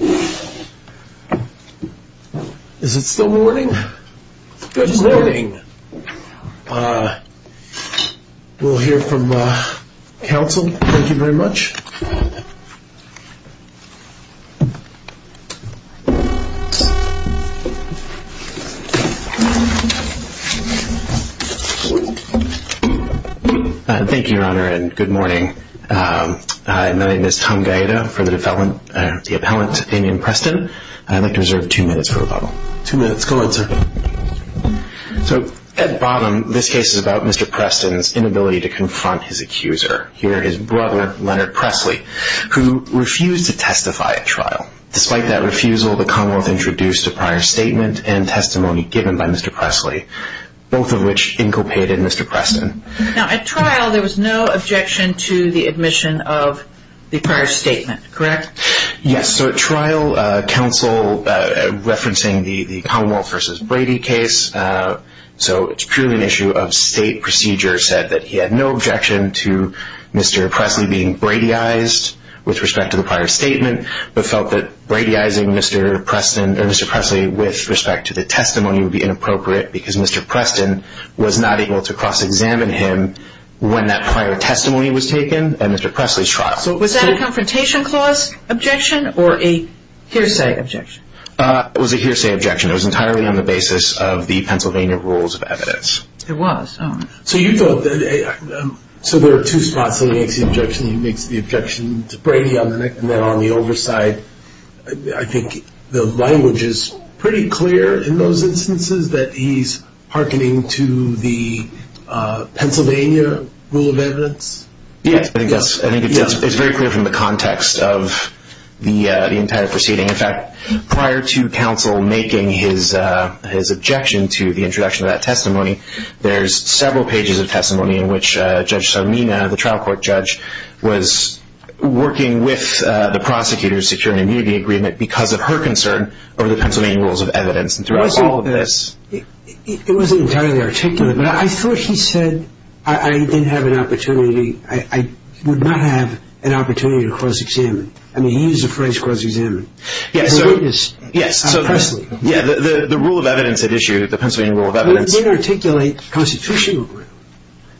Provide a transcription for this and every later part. Is it still morning? Good morning. We'll hear from counsel. Thank you very much. Thank you, Your Honor, and good morning. My name is Tom Gaeta for the appellant Damian Preston. I'd like to reserve two minutes for rebuttal. Two minutes. Go ahead, sir. So at bottom, this case is about Mr. Preston's inability to confront his accuser, here his brother, Leonard Presley, who refused to testify at trial. Despite that refusal, the Commonwealth introduced a prior statement and testimony given by Mr. Presley, both of which inculcated Mr. Preston. Now, at trial, there was no objection to the admission of the prior statement, correct? Yes. So at trial, counsel, referencing the Commonwealth v. Brady case, so it's purely an issue of state procedure, said that he had no objection to Mr. Presley being Bradyized with respect to the prior statement, but felt that Bradyizing Mr. Preston, or Mr. Presley, with respect to the testimony would be inappropriate because Mr. Preston was not able to cross-examine him when that prior testimony was taken at Mr. Presley's trial. So was that a Confrontation Clause objection or a hearsay objection? It was a hearsay objection. It was entirely on the basis of the Pennsylvania Rules of Evidence. It was? Oh. So there are two spots he makes the objection. He makes the objection to Brady on the neck I think the language is pretty clear in those instances that he's hearkening to the Pennsylvania Rule of Evidence. Yes, I think it's very clear from the context of the entire proceeding. In fact, prior to counsel making his objection to the introduction of that testimony, there's several pages of testimony in which Judge Sarmina, the trial court judge, was working with the prosecutors to secure an immunity agreement because of her concern over the Pennsylvania Rules of Evidence and throughout all of this. It wasn't entirely articulate, but I thought he said, I didn't have an opportunity, I would not have an opportunity to cross-examine. I mean, he used the phrase cross-examine. Yes, so the rule of evidence at issue, the Pennsylvania Rule of Evidence It did articulate constitutional ground.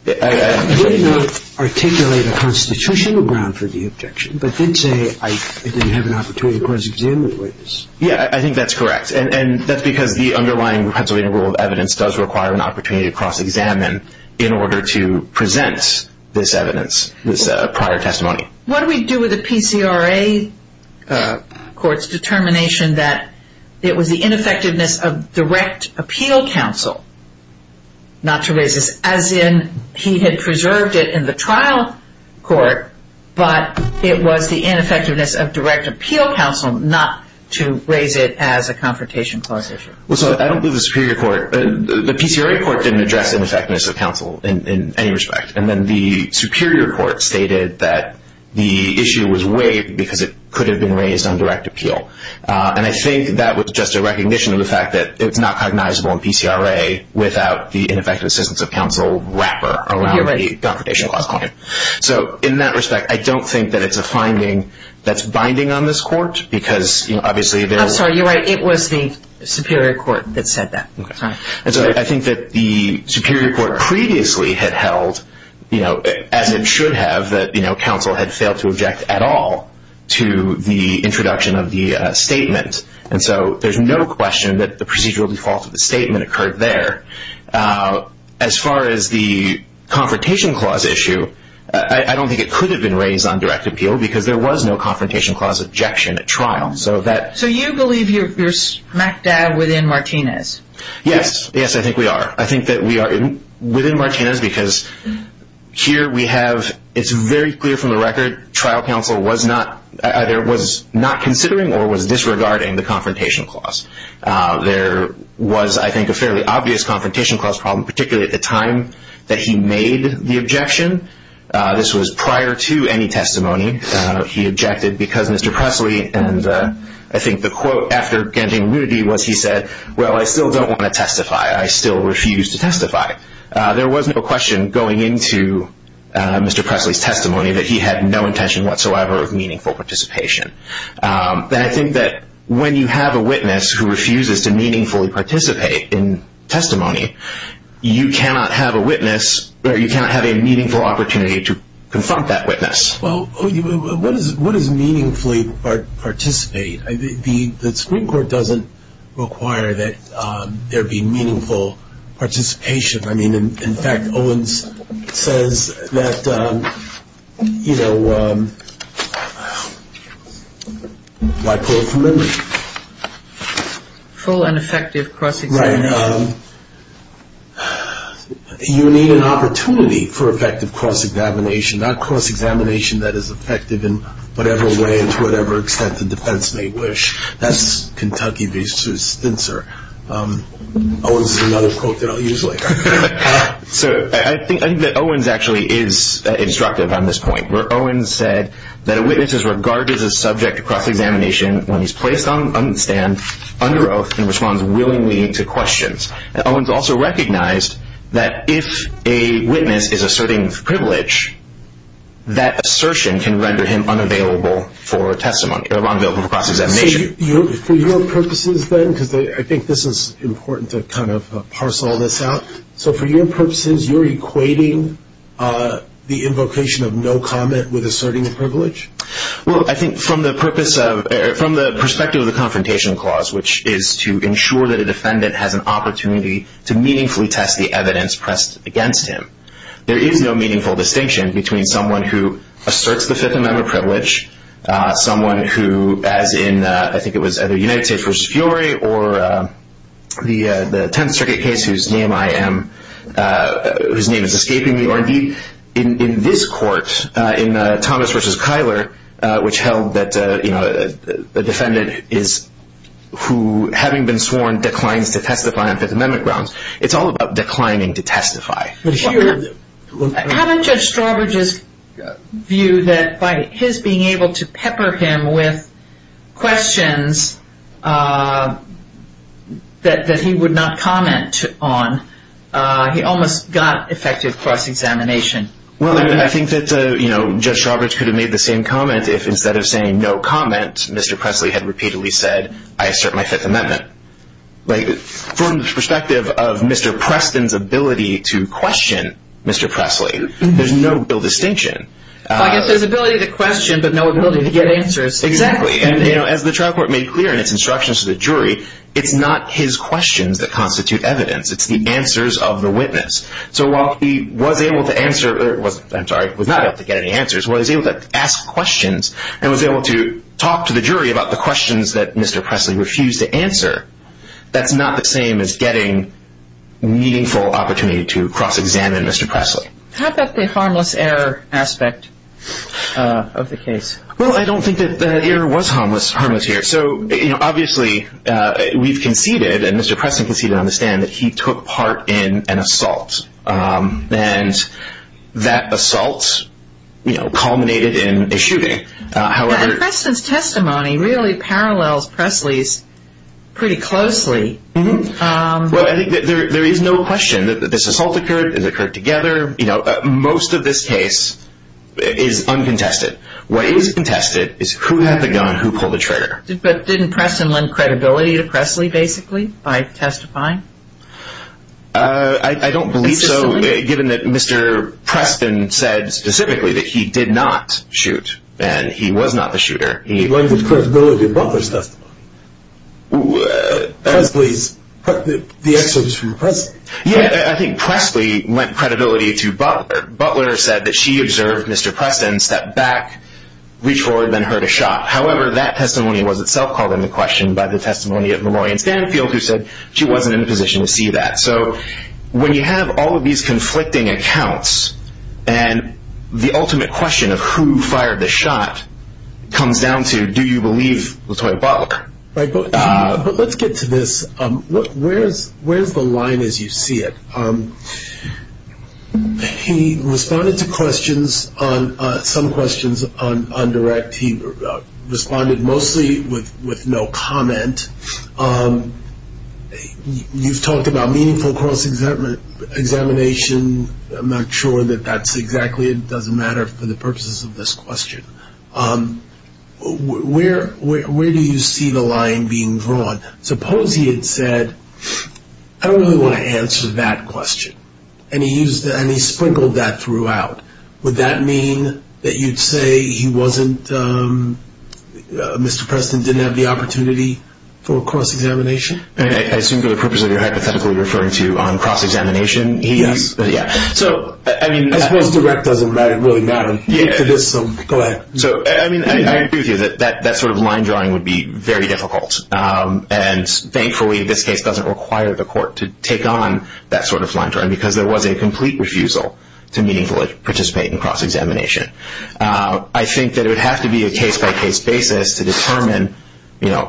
It did not articulate a constitutional ground for the objection, but did say I didn't have an opportunity to cross-examine the witness. Yes, I think that's correct. And that's because the underlying Pennsylvania Rule of Evidence does require an opportunity to cross-examine in order to present this evidence, this prior testimony. What do we do with the PCRA court's determination that it was the ineffectiveness of direct appeal counsel not to raise this? As in, he had preserved it in the trial court, but it was the ineffectiveness of direct appeal counsel not to raise it as a confrontation clause issue. Well, so I don't believe the superior court, the PCRA court didn't address ineffectiveness of counsel in any respect. And then the superior court stated that the issue was waived because it could have been raised on direct appeal. And I think that was just a recognition of the fact that it's not cognizable in PCRA without the ineffectiveness of counsel wrapper around the confrontation clause claim. So in that respect, I don't think that it's a finding that's binding on this court, because obviously there was- I'm sorry, you're right. It was the superior court that said that. I think that the superior court previously had held, as it should have, that counsel had failed to object at all to the introduction of the statement. And so there's no question that the procedural default of the statement occurred there. As far as the confrontation clause issue, I don't think it could have been raised on direct appeal because there was no confrontation clause objection at trial. So you believe you're smack dab within Martinez? Yes. Yes, I think we are. I think that we are within Martinez because here we have-it's very clear from the record trial counsel either was not considering or was disregarding the confrontation clause. There was, I think, a fairly obvious confrontation clause problem, particularly at the time that he made the objection. This was prior to any testimony. He objected because Mr. Presley, and I think the quote after getting nudity was he said, well, I still don't want to testify. I still refuse to testify. There was no question going into Mr. Presley's testimony that he had no intention whatsoever of meaningful participation. And I think that when you have a witness who refuses to meaningfully participate in testimony, you cannot have a witness or you cannot have a meaningful opportunity to confront that witness. Well, what is meaningfully participate? The Supreme Court doesn't require that there be meaningful participation. I mean, in fact, Owens says that, you know, why pull it from memory? Full and effective cross-examination. Right. You need an opportunity for effective cross-examination, not cross-examination that is effective in whatever way and to whatever extent the defense may wish. That's Kentucky v. Spencer. Owens has another quote that I'll use later. So I think that Owens actually is instructive on this point, where Owens said that a witness is regarded as a subject of cross-examination when he's placed on the stand under oath and responds willingly to questions. And Owens also recognized that if a witness is asserting privilege, that assertion can render him unavailable for testimony or unavailable for cross-examination. So for your purposes, then, because I think this is important to kind of parse all this out. So for your purposes, you're equating the invocation of no comment with asserting privilege? Well, I think from the perspective of the Confrontation Clause, which is to ensure that a defendant has an opportunity to meaningfully test the evidence pressed against him, there is no meaningful distinction between someone who asserts the Fifth Amendment privilege, someone who, as in, I think it was either United States v. Fiore or the Tenth Circuit case, whose name I am, whose name is escaping me, or indeed in this court, in Thomas v. Kyler, which held that a defendant is who, having been sworn, declines to testify on Fifth Amendment grounds. It's all about declining to testify. Haven't Judge Strawbridge's view that by his being able to pepper him with questions that he would not comment on, he almost got effective cross-examination? Well, I think that Judge Strawbridge could have made the same comment if instead of saying no comment, Mr. Presley had repeatedly said, I assert my Fifth Amendment. From the perspective of Mr. Preston's ability to question Mr. Presley, there's no real distinction. I guess there's ability to question, but no ability to get answers. Exactly. And as the trial court made clear in its instructions to the jury, it's not his questions that constitute evidence. It's the answers of the witness. So while he was able to answer, I'm sorry, was not able to get any answers, was able to ask questions and was able to talk to the jury about the questions that Mr. Presley refused to answer, that's not the same as getting meaningful opportunity to cross-examine Mr. Presley. How about the harmless error aspect of the case? Well, I don't think that the error was harmless here. So obviously we've conceded, and Mr. Preston conceded on the stand, that he took part in an assault. And that assault culminated in a shooting. Preston's testimony really parallels Presley's pretty closely. Well, I think that there is no question that this assault occurred, it occurred together. Most of this case is uncontested. What is contested is who had the gun, who pulled the trigger. But didn't Preston lend credibility to Presley, basically, by testifying? I don't believe so, given that Mr. Preston said specifically that he did not shoot, and he was not the shooter. He lended credibility in Butler's testimony. Presley's, the excerpt is from Presley. Yeah, I think Presley lent credibility to Butler. Butler said that she observed Mr. Preston step back, reach forward, then heard a shot. However, that testimony was itself called into question by the testimony of Memorian Stanfield, who said she wasn't in a position to see that. So when you have all of these conflicting accounts, and the ultimate question of who fired the shot comes down to, do you believe Latoya Butler? Right, but let's get to this. Where is the line as you see it? He responded to questions, some questions on direct. He responded mostly with no comment. You've talked about meaningful cross-examination. I'm not sure that that's exactly, it doesn't matter for the purposes of this question. Where do you see the line being drawn? Suppose he had said, I don't really want to answer that question. And he sprinkled that throughout. Would that mean that you'd say he wasn't, Mr. Preston didn't have the opportunity for cross-examination? I assume for the purposes of your hypothetical you're referring to cross-examination? Yes. I suppose direct doesn't really matter. Go ahead. I agree with you that that sort of line drawing would be very difficult. And thankfully this case doesn't require the court to take on that sort of line drawing because there was a complete refusal to meaningfully participate in cross-examination. I think that it would have to be a case-by-case basis to determine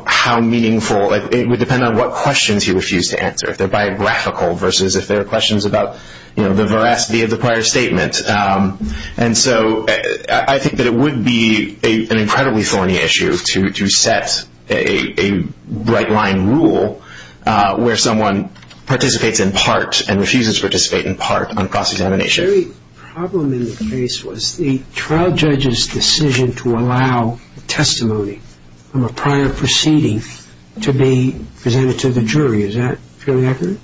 how meaningful, it would depend on what questions he refused to answer, if they're biographical versus if they're questions about the veracity of the prior statement. And so I think that it would be an incredibly thorny issue to set a right-line rule where someone participates in part and refuses to participate in part on cross-examination. The very problem in the case was the trial judge's decision to allow testimony from a prior proceeding to be presented to the jury. Is that fairly accurate?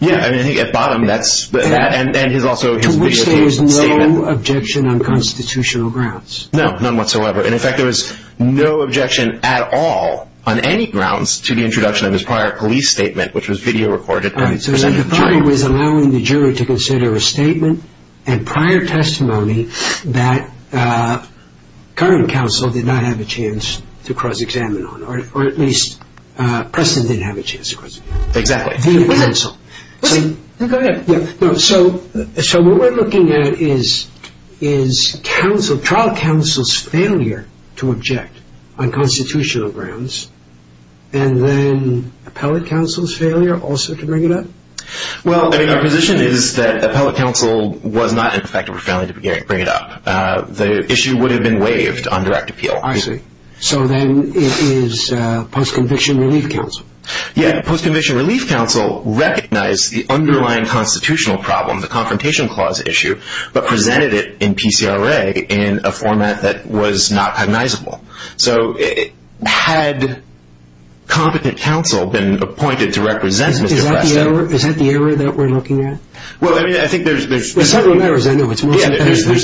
Yes. I think at bottom that's that. To which there was no objection on constitutional grounds. No, none whatsoever. And, in fact, there was no objection at all on any grounds to the introduction of his prior police statement, which was video-recorded. So the point was allowing the jury to consider a statement and prior testimony that current counsel did not have a chance to cross-examine on, or at least Preston didn't have a chance to cross-examine on. Exactly. So what we're looking at is trial counsel's failure to object on constitutional grounds and then appellate counsel's failure also to bring it up? Well, I mean, our position is that appellate counsel was not effective or failing to bring it up. The issue would have been waived on direct appeal. I see. So then it is post-conviction relief counsel. Yeah. Post-conviction relief counsel recognized the underlying constitutional problem, the Confrontation Clause issue, but presented it in PCRA in a format that was not cognizable. So had competent counsel been appointed to represent Mr. Preston Is that the error that we're looking at? Well, I mean, I think there's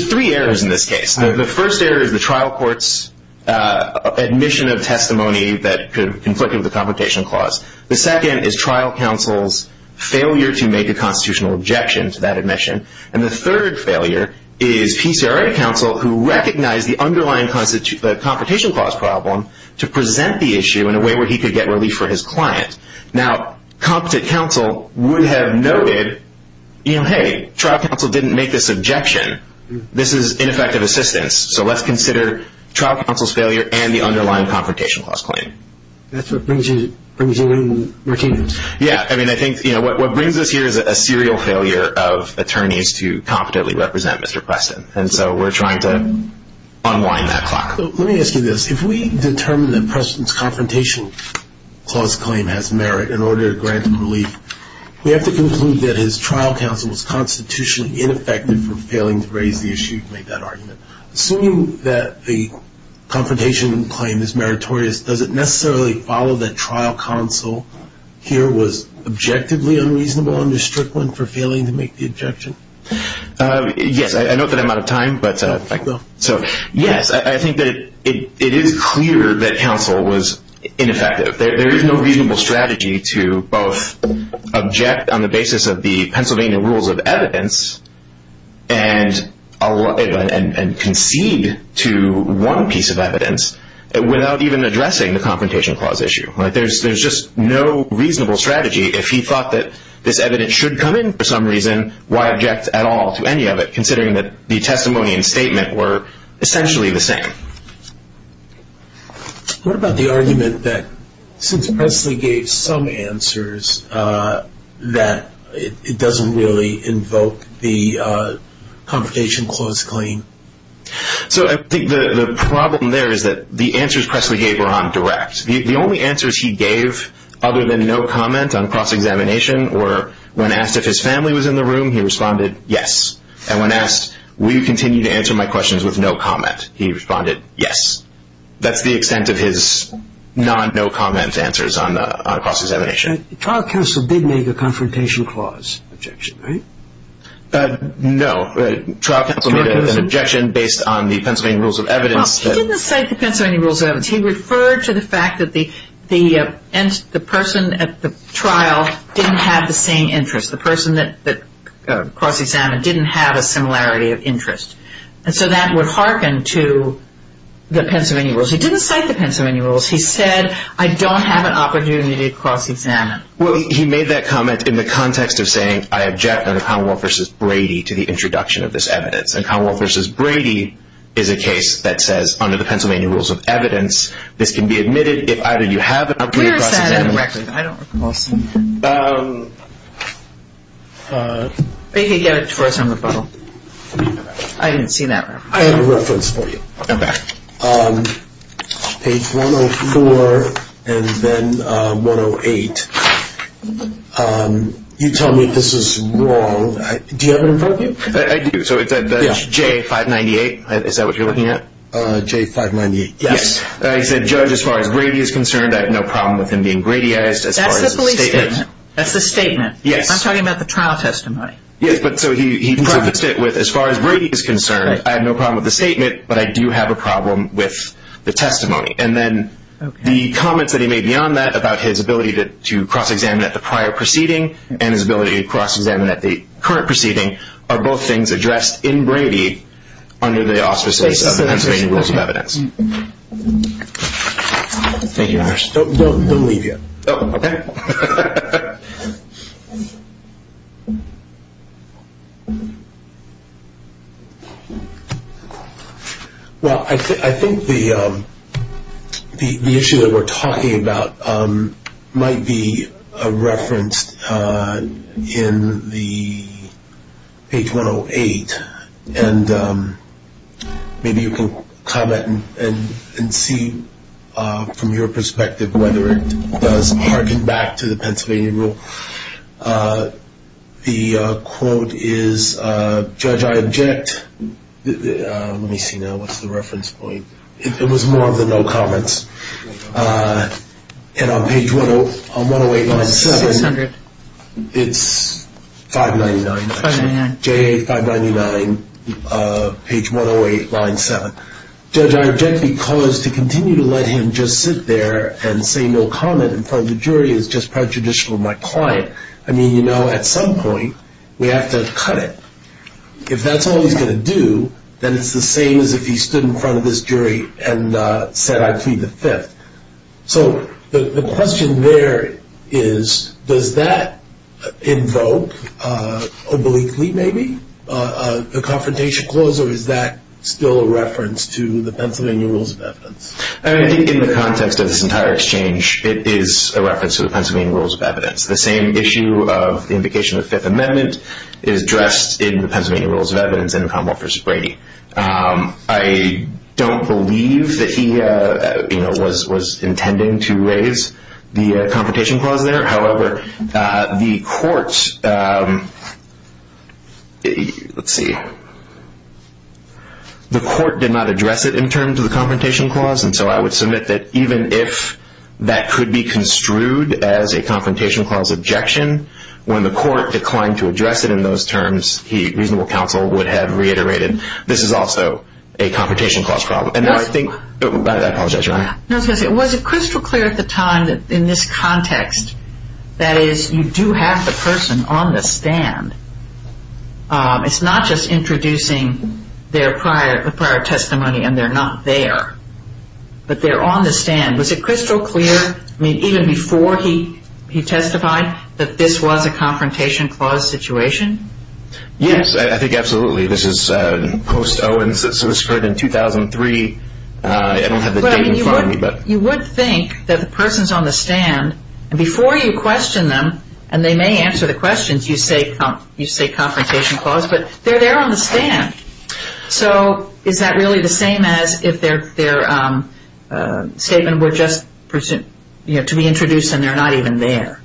three errors in this case. The first error is the trial court's admission of testimony that could have conflicted with the Confrontation Clause. The second is trial counsel's failure to make a constitutional objection to that admission. And the third failure is PCRA counsel who recognized the underlying Confrontation Clause problem to present the issue in a way where he could get relief for his client. Now, competent counsel would have noted, you know, hey, trial counsel didn't make this objection. This is ineffective assistance. So let's consider trial counsel's failure and the underlying Confrontation Clause claim. That's what brings you in, Martino. Yeah. I mean, I think what brings us here is a serial failure of attorneys to competently represent Mr. Preston. And so we're trying to unwind that clock. Let me ask you this. If we determine that Preston's Confrontation Clause claim has merit in order to grant him relief, we have to conclude that his trial counsel was constitutionally ineffective for failing to raise the issue to make that argument. Assuming that the Confrontation Claim is meritorious, does it necessarily follow that trial counsel here was objectively unreasonable under Strickland for failing to make the objection? Yes. I note that I'm out of time. So, yes, I think that it is clear that counsel was ineffective. There is no reasonable strategy to both object on the basis of the Pennsylvania Rules of Evidence and concede to one piece of evidence without even addressing the Confrontation Clause issue. There's just no reasonable strategy. If he thought that this evidence should come in for some reason, why object at all to any of it, considering that the testimony and statement were essentially the same? What about the argument that since Presley gave some answers, that it doesn't really invoke the Confrontation Clause claim? So I think the problem there is that the answers Presley gave were on direct. The only answers he gave other than no comment on cross-examination When asked if his family was in the room, he responded, yes. And when asked, will you continue to answer my questions with no comment, he responded, yes. That's the extent of his non-no comment answers on cross-examination. Trial counsel did make a Confrontation Clause objection, right? No. Trial counsel made an objection based on the Pennsylvania Rules of Evidence. He didn't say the Pennsylvania Rules of Evidence. He referred to the fact that the person at the trial didn't have the same interest. The person that cross-examined didn't have a similarity of interest. And so that would hearken to the Pennsylvania Rules. He didn't cite the Pennsylvania Rules. He said, I don't have an opportunity to cross-examine. Well, he made that comment in the context of saying, I object under Commonwealth v. Brady to the introduction of this evidence. And Commonwealth v. Brady is a case that says, under the Pennsylvania Rules of Evidence, this can be admitted if either you have an opinion or cross-examine correctly. Where is that? I don't recall seeing that. Maybe he gave it to us on the phone. I didn't see that reference. I have a reference for you. Okay. Page 104 and then 108. You tell me this is wrong. Do you have an informant? I do. So it's J598. Is that what you're looking at? J598. Yes. He said, Judge, as far as Brady is concerned, I have no problem with him being Brady-ized as far as the statement. That's the police statement. That's the statement. Yes. I'm talking about the trial testimony. Yes. But so he said, as far as Brady is concerned, I have no problem with the statement, but I do have a problem with the testimony. And then the comments that he made beyond that about his ability to cross-examine at the prior proceeding and his ability to cross-examine at the current proceeding are both things addressed in Brady under the auspices of the Pennsylvania Rules of Evidence. Thank you very much. Don't leave yet. Oh, okay. Well, I think the issue that we're talking about might be referenced in the page 108, and maybe you can comment and see from your perspective whether it does harken back to the Pennsylvania Rule. The quote is, Judge, I object. Let me see now. What's the reference point? It was more of the no comments. And on page 108.7, it's 599. 599. JA 599, page 108, line 7. Judge, I object because to continue to let him just sit there and say no comment in front of the jury is just prejudicial to my client. I mean, you know, at some point we have to cut it. If that's all he's going to do, then it's the same as if he stood in front of this jury and said, I plead the Fifth. So the question there is, does that invoke, obliquely maybe, the Confrontation Clause, or is that still a reference to the Pennsylvania Rules of Evidence? I think in the context of this entire exchange, it is a reference to the Pennsylvania Rules of Evidence. The same issue of the invocation of the Fifth Amendment is addressed in the Pennsylvania Rules of Evidence in the Commonwealth v. Brady. I don't believe that he was intending to raise the Confrontation Clause there. However, the court did not address it in terms of the Confrontation Clause, and so I would submit that even if that could be construed as a Confrontation Clause objection, when the court declined to address it in those terms, reasonable counsel would have reiterated, this is also a Confrontation Clause problem. I apologize, Your Honor. No, it's okay. Was it crystal clear at the time, in this context, that is, you do have the person on the stand? It's not just introducing their prior testimony and they're not there, but they're on the stand. Was it crystal clear, even before he testified, that this was a Confrontation Clause situation? Yes, I think absolutely. This is post-Owens. This was heard in 2003. I don't have the date in front of me. You would think that the person's on the stand, and before you question them, and they may answer the questions, you say Confrontation Clause, but they're there on the stand. So is that really the same as if their statement were just to be introduced and they're not even there?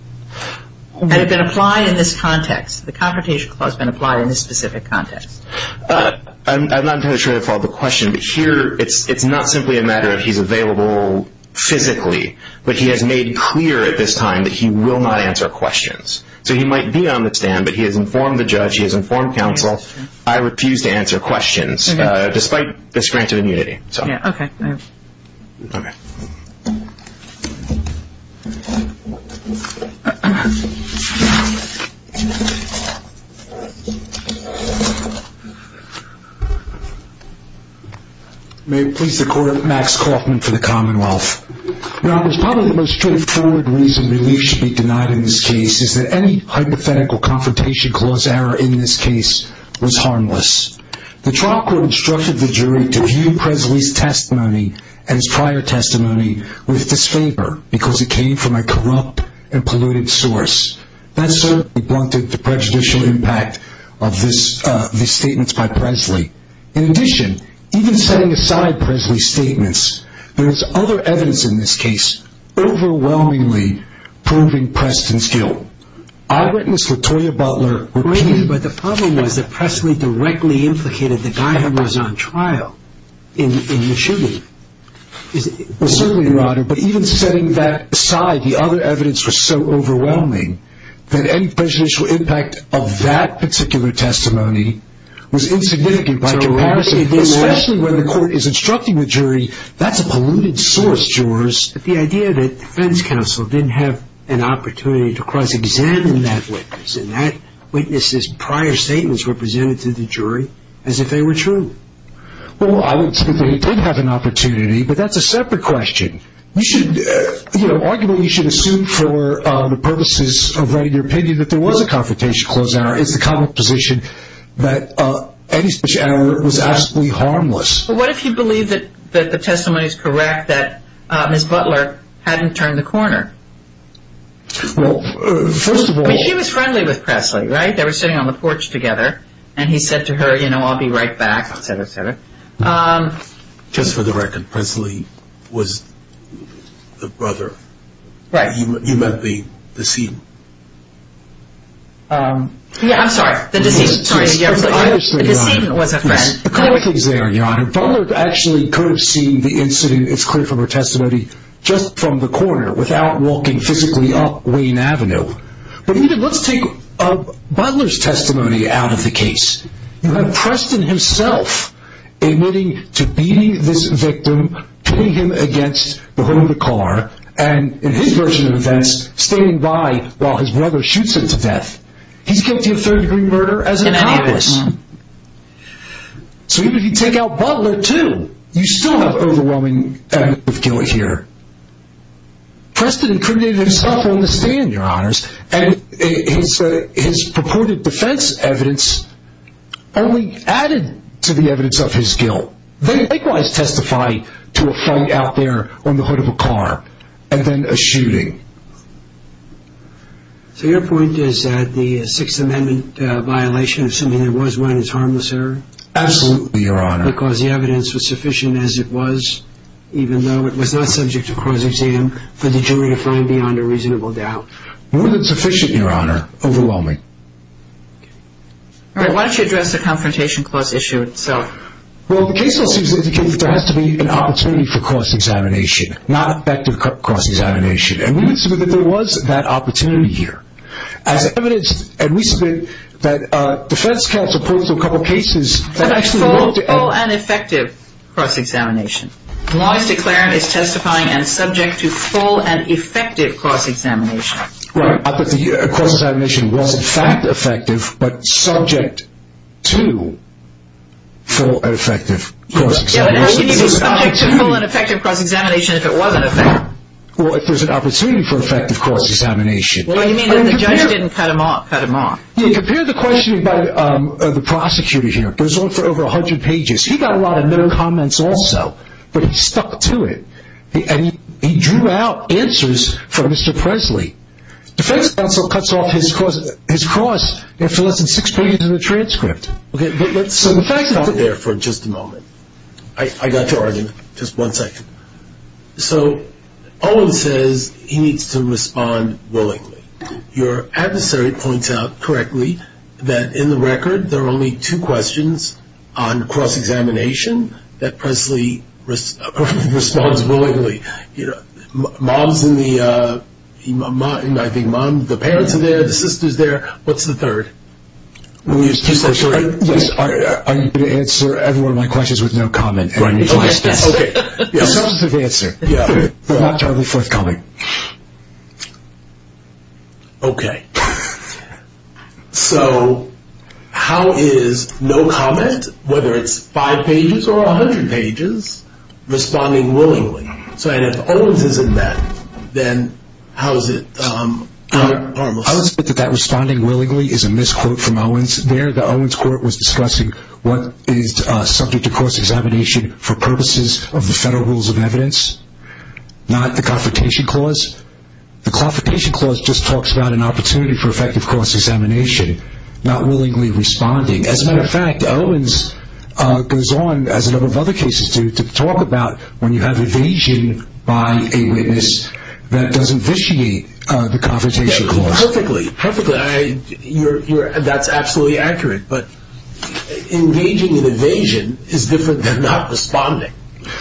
Had it been applied in this context? Had the Confrontation Clause been applied in this specific context? I'm not entirely sure of the question, but here it's not simply a matter of he's available physically, but he has made clear at this time that he will not answer questions. So he might be on the stand, but he has informed the judge, he has informed counsel. I refuse to answer questions, despite this grant of immunity. Okay. May it please the Court, Max Kaufman for the Commonwealth. Now, there's probably the most straightforward reason relief should be denied in this case, is that any hypothetical Confrontation Clause error in this case was harmless. The trial court instructed the jury to view Presley's testimony and his prior testimony with disfavor, because it came from a corrupt and polluted source. That certainly blunted the prejudicial impact of these statements by Presley. There is other evidence in this case overwhelmingly proving Preston's guilt. I've witnessed Latoya Butler repeat. But the problem was that Presley directly implicated the guy who was on trial in the shooting. Well, certainly, Your Honor, but even setting that aside, the other evidence was so overwhelming that any prejudicial impact of that particular testimony was insignificant by comparison, especially when the court is instructing the jury, that's a polluted source, jurors. The idea that defense counsel didn't have an opportunity to cross-examine that witness and that witness's prior statements were presented to the jury as if they were true. Well, I wouldn't say they did have an opportunity, but that's a separate question. Arguably, you should assume for the purposes of writing your opinion that there was a Confrontation Clause error. It's the common position that any speech error was absolutely harmless. But what if you believe that the testimony is correct, that Ms. Butler hadn't turned the corner? Well, first of all. I mean, she was friendly with Presley, right? They were sitting on the porch together, and he said to her, you know, I'll be right back, et cetera, et cetera. Just for the record, Presley was the brother. Right. You meant the decedent. Yeah, I'm sorry. The decedent was a friend. A couple of things there, Your Honor. Butler actually could have seen the incident, it's clear from her testimony, just from the corner without walking physically up Wayne Avenue. But let's take Butler's testimony out of the case. Preston himself admitting to beating this victim, putting him against the hood of the car, and in his version of events, standing by while his brother shoots him to death. He's guilty of third-degree murder as an accomplice. So even if you take out Butler, too, you still have overwhelming evidence of guilt here. Preston incriminated himself on the stand, Your Honors, and his purported defense evidence only added to the evidence of his guilt. They likewise testify to a fight out there on the hood of a car and then a shooting. So your point is that the Sixth Amendment violation of something that was run is harmless error? Absolutely, Your Honor. Because the evidence was sufficient as it was, even though it was not subject to cross-exam for the jury to find beyond a reasonable doubt. More than sufficient, Your Honor. Overwhelming. All right. Why don't you address the confrontation clause issue itself? Well, the case law seems to indicate that there has to be an opportunity for cross-examination, not effective cross-examination. And we would submit that there was that opportunity here. As evidence, and we submit that defense counsel pulled through a couple of cases that actually worked. A full and effective cross-examination. The law is declared as testifying and subject to full and effective cross-examination. Right, but the cross-examination was in fact effective, but subject to full and effective cross-examination. Yeah, but how can you be subject to full and effective cross-examination if it wasn't effective? Well, if there's an opportunity for effective cross-examination. What do you mean that the judge didn't cut him off? Compare the questioning by the prosecutor here. It goes on for over 100 pages. He got a lot of no comments also, but he stuck to it. And he drew out answers from Mr. Presley. Defense counsel cuts off his cross after less than six pages of the transcript. Okay, so the fact that... Let's stop there for just a moment. I got to argue, just one second. So Owen says he needs to respond willingly. Your adversary points out correctly that in the record there are only two questions on cross-examination that Presley responds willingly. Mom's in the... I think Mom, the parents are there, the sister's there. What's the third? Are you going to answer every one of my questions with no comment? Okay, a substantive answer. Charlie, fourth comment. Okay. So how is no comment, whether it's five pages or 100 pages, responding willingly? And if Owen's isn't that, then how is it... I would submit that that responding willingly is a misquote from Owen's there. The Owen's court was discussing what is subject to cross-examination for purposes of the federal rules of evidence, not the Confrontation Clause. The Confrontation Clause just talks about an opportunity for effective cross-examination, not willingly responding. As a matter of fact, Owen's goes on, as a number of other cases do, to talk about when you have evasion by a witness that doesn't vitiate the Confrontation Clause. Yeah, perfectly, perfectly. That's absolutely accurate. But engaging in evasion is different than not responding.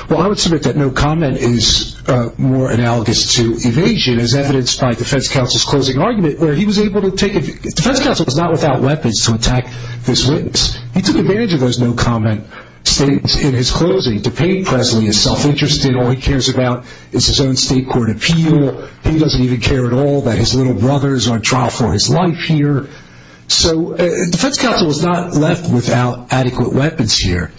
Well, I would submit that no comment is more analogous to evasion, as evidenced by defense counsel's closing argument, where he was able to take... Defense counsel is not without weapons to attack this witness. He took advantage of those no comment statements in his closing. DePayne Presley is self-interested. All he cares about is his own state court appeal. He doesn't even care at all that his little brothers are on trial for his life here. So defense counsel is not left without adequate weapons here.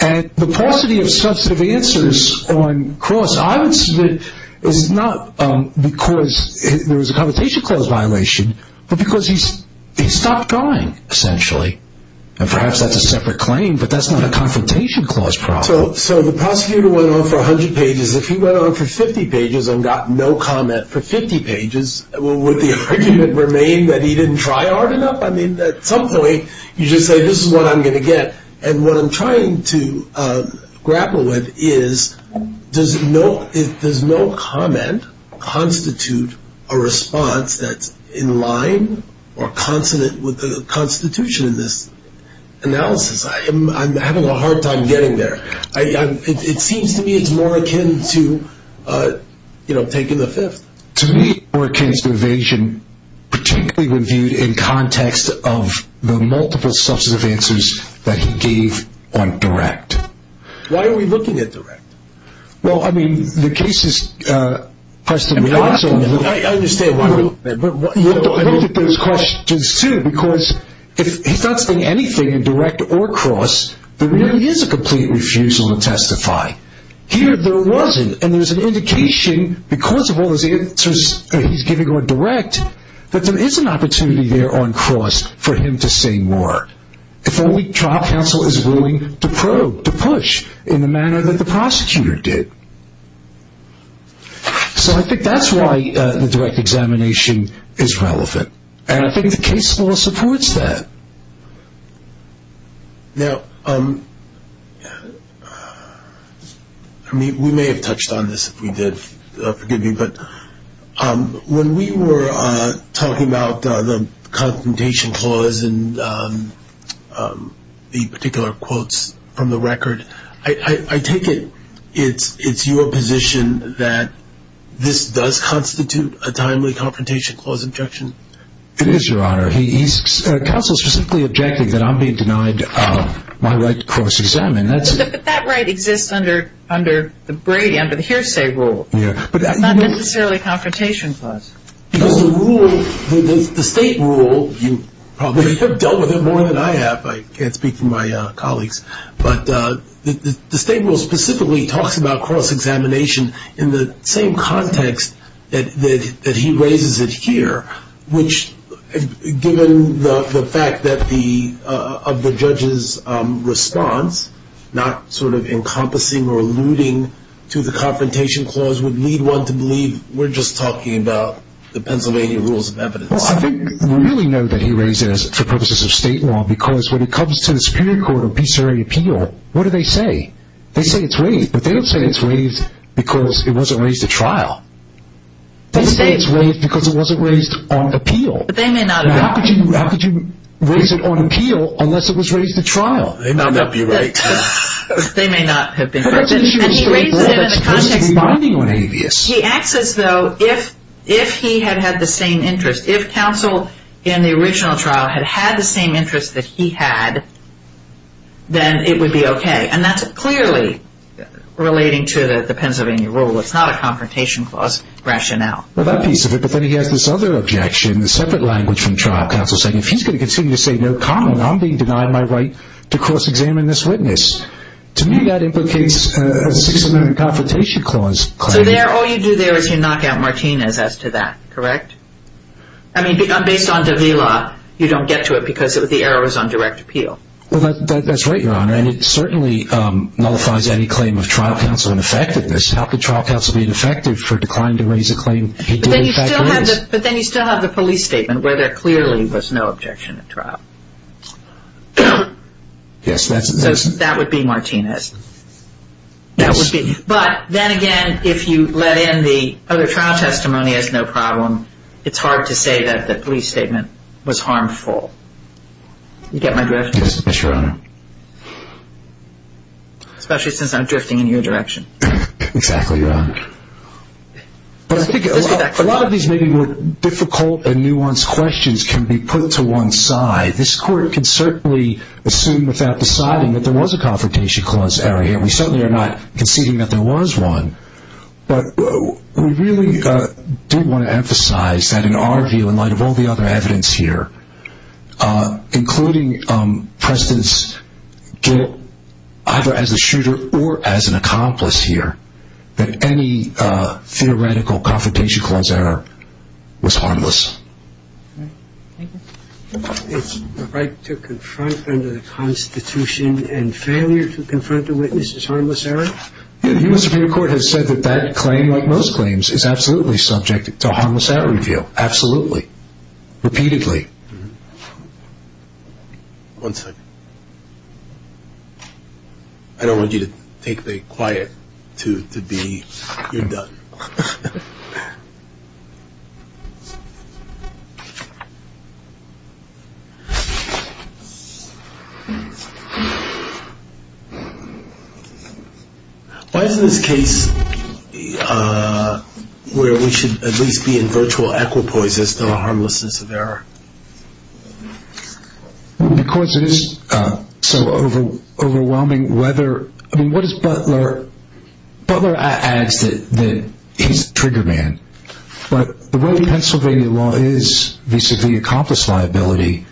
And the paucity of substantive answers on Cross, I would submit, is not because there was a Confrontation Clause violation, but because he stopped going, essentially. And perhaps that's a separate claim, but that's not a Confrontation Clause problem. So the prosecutor went on for 100 pages. If he went on for 50 pages and got no comment for 50 pages, would the argument remain that he didn't try hard enough? I mean, at some point, you just say, this is what I'm going to get. And what I'm trying to grapple with is, does no comment constitute a response that's in line or consonant with the Constitution in this analysis? I'm having a hard time getting there. It seems to me it's more akin to taking the fifth. To me, it's more akin to evasion, particularly when viewed in context of the multiple substantive answers that he gave on Direct. Why are we looking at Direct? Well, I mean, the case is precedent. I understand why. Look at those questions, too, because if he's not saying anything in Direct or Cross, there really is a complete refusal to testify. Here, there wasn't. And there's an indication, because of all those answers that he's giving on Direct, that there is an opportunity there on Cross for him to say more. If only trial counsel is willing to probe, to push in the manner that the prosecutor did. So I think that's why the Direct examination is relevant. And I think the case law supports that. Now, we may have touched on this if we did. Forgive me. But when we were talking about the Confrontation Clause and the particular quotes from the record, I take it it's your position that this does constitute a timely Confrontation Clause objection? It is, Your Honor. Counsel specifically objected that I'm being denied my right to cross-examine. But that right exists under the Brady, under the hearsay rule. It's not necessarily a Confrontation Clause. Because the rule, the state rule, you probably have dealt with it more than I have. I can't speak for my colleagues. But the state rule specifically talks about cross-examination in the same context that he raises it here, which, given the fact of the judge's response, not sort of encompassing or alluding to the Confrontation Clause, would lead one to believe we're just talking about the Pennsylvania Rules of Evidence. Well, I think we really know that he raised it for purposes of state law, because when it comes to the Superior Court of Peace Area Appeal, what do they say? They say it's waived. But they don't say it's waived because it wasn't raised at trial. They say it's waived because it wasn't raised on appeal. But they may not have. How could you raise it on appeal unless it was raised at trial? They may not be right. They may not have been correct. And he raises it in the context of binding on habeas. He acts as though if he had had the same interest, if counsel in the original trial had had the same interest that he had, then it would be okay. And that's clearly relating to the Pennsylvania Rule. It's not a Confrontation Clause rationale. Well, that piece of it. But then he has this other objection, a separate language from trial. Counsel is saying if he's going to continue to say no comment, I'm being denied my right to cross-examine this witness. To me, that implicates a Sixth Amendment Confrontation Clause claim. So all you do there is you knock out Martinez as to that. Correct? I mean, based on De Vila, you don't get to it because the error was on direct appeal. Well, that's right, Your Honor. And it certainly nullifies any claim of trial counsel ineffectiveness. How could trial counsel be ineffective for declining to raise a claim? But then you still have the police statement where there clearly was no objection at trial. Yes, that's it. So that would be Martinez. But then again, if you let in the other trial testimony as no problem, it's hard to say that the police statement was harmful. You get my drift? Yes, Your Honor. Especially since I'm drifting in your direction. Exactly, Your Honor. A lot of these maybe more difficult and nuanced questions can be put to one side. This Court can certainly assume without deciding that there was a Confrontation Clause error here. We certainly are not conceding that there was one. But we really do want to emphasize that in our view, in light of all the other evidence here, including Preston's guilt either as a shooter or as an accomplice here, that any theoretical Confrontation Clause error was harmless. It's the right to confront under the Constitution and failure to confront a witness is harmless error? The U.S. Supreme Court has said that that claim, like most claims, is absolutely subject to harmless error review. Absolutely. Repeatedly. One second. I don't want you to take the quiet to be you're done. Why is it this case where we should at least be in virtual equipoises to the harmlessness of error? Because it is so overwhelming whether, I mean, what does Butler, Butler adds that he's a trigger man. But the way Pennsylvania law is vis-a-vis accomplice liability,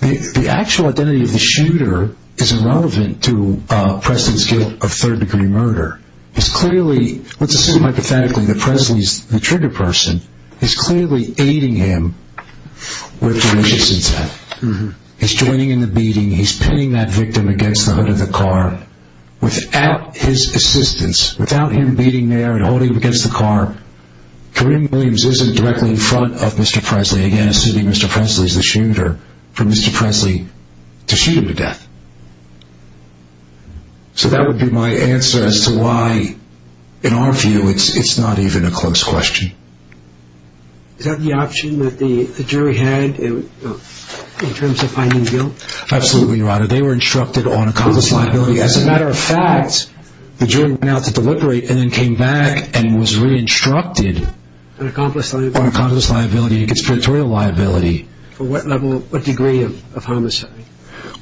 the actual identity of the shooter is irrelevant to Preston's guilt of third degree murder. It's clearly, let's assume hypothetically that Preston is the trigger person, it's clearly aiding him with malicious intent. He's joining in the beating, he's pinning that victim against the hood of the car. Without his assistance, without him beating there and holding him against the car, Kareem Williams isn't directly in front of Mr. Presley, again, assuming Mr. Presley is the shooter, for Mr. Presley to shoot him to death. So that would be my answer as to why, in our view, it's not even a close question. Is that the option that the jury had in terms of finding guilt? Absolutely, your honor. They were instructed on accomplice liability. As a matter of fact, the jury went out to deliberate and then came back and was re-instructed on accomplice liability and conspiratorial liability. For what level, what degree of homicide?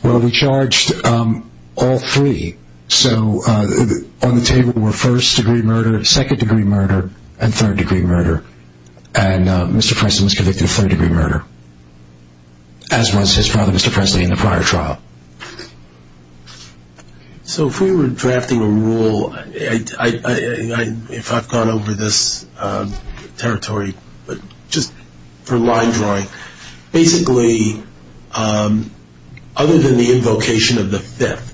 Well, we charged all three. So on the table were first degree murder, second degree murder, and third degree murder. And Mr. Preston was convicted of third degree murder, as was his father, Mr. Presley, in the prior trial. So if we were drafting a rule, if I've gone over this territory, but just for line drawing, basically, other than the invocation of the fifth,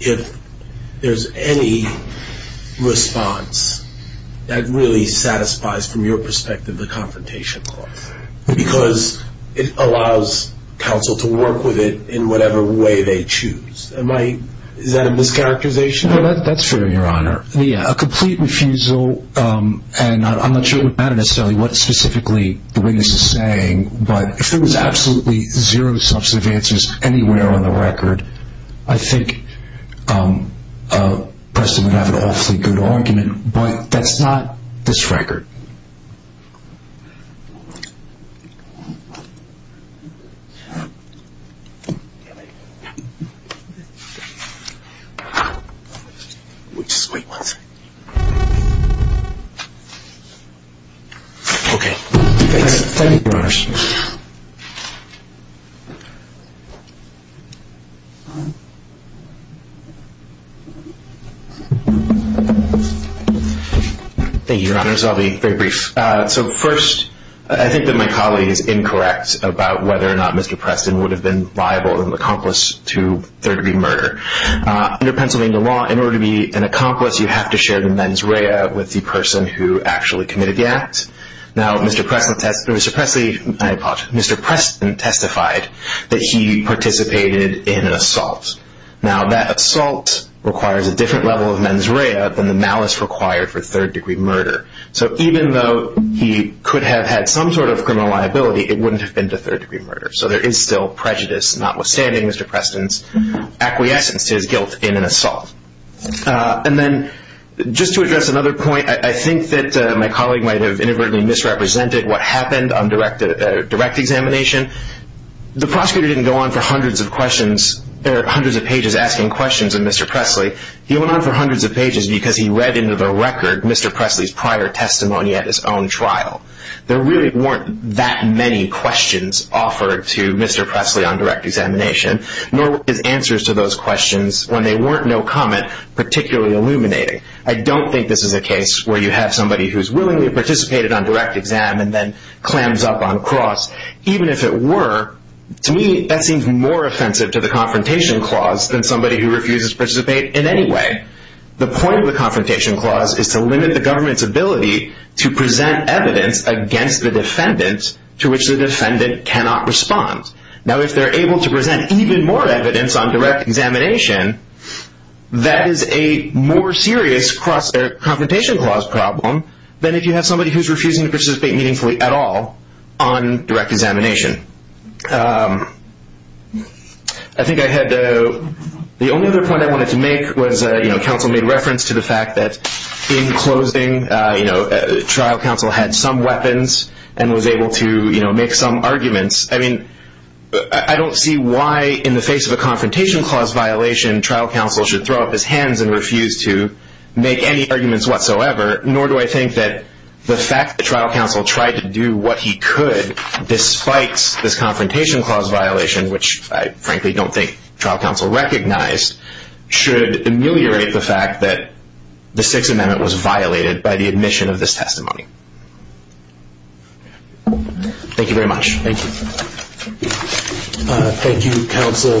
if there's any response that really satisfies, from your perspective, the confrontation clause, because it allows counsel to work with it in whatever way they choose. Is that a mischaracterization? That's fair, your honor. A complete refusal, and I'm not sure it would matter necessarily what specifically the witness is saying, but if there was absolutely zero substantive answers anywhere on the record, I think Preston would have an awfully good argument. But that's not this record. We'll just wait one second. Okay. Thank you, your honors. Thank you, your honors. I'll be very brief. So first, I think that my colleague is incorrect about whether or not Mr. Preston would have been liable or an accomplice to third degree murder. Under Pennsylvania law, in order to be an accomplice, you have to share the mens rea with the person who actually committed the act. Now, Mr. Preston testified that he participated in an assault. Now, that assault requires a different level of mens rea than the malice required for third degree murder. So even though he could have had some sort of criminal liability, it wouldn't have been to third degree murder. So there is still prejudice notwithstanding Mr. Preston's acquiescence to his guilt in an assault. And then just to address another point, I think that my colleague might have inadvertently misrepresented what happened on direct examination. The prosecutor didn't go on for hundreds of pages asking questions of Mr. Presley. He went on for hundreds of pages because he read into the record Mr. Presley's prior testimony at his own trial. There really weren't that many questions offered to Mr. Presley on direct examination, nor were his answers to those questions, when they weren't no comment, particularly illuminating. I don't think this is a case where you have somebody who's willingly participated on direct exam and then clams up on cross, even if it were. To me, that seems more offensive to the Confrontation Clause than somebody who refuses to participate in any way. The point of the Confrontation Clause is to limit the government's ability to present evidence against the defendant to which the defendant cannot respond. Now, if they're able to present even more evidence on direct examination, that is a more serious Confrontation Clause problem than if you have somebody who's refusing to participate meaningfully at all on direct examination. The only other point I wanted to make was, counsel made reference to the fact that in closing, trial counsel had some weapons and was able to make some arguments. I don't see why, in the face of a Confrontation Clause violation, trial counsel should throw up his hands and refuse to make any arguments whatsoever, nor do I think that the fact that trial counsel tried to do what he could, despite this Confrontation Clause violation, which I frankly don't think trial counsel recognized, should ameliorate the fact that the Sixth Amendment was violated by the admission of this testimony. Thank you very much. Thank you. Thank you, counsel, for a well-argued case.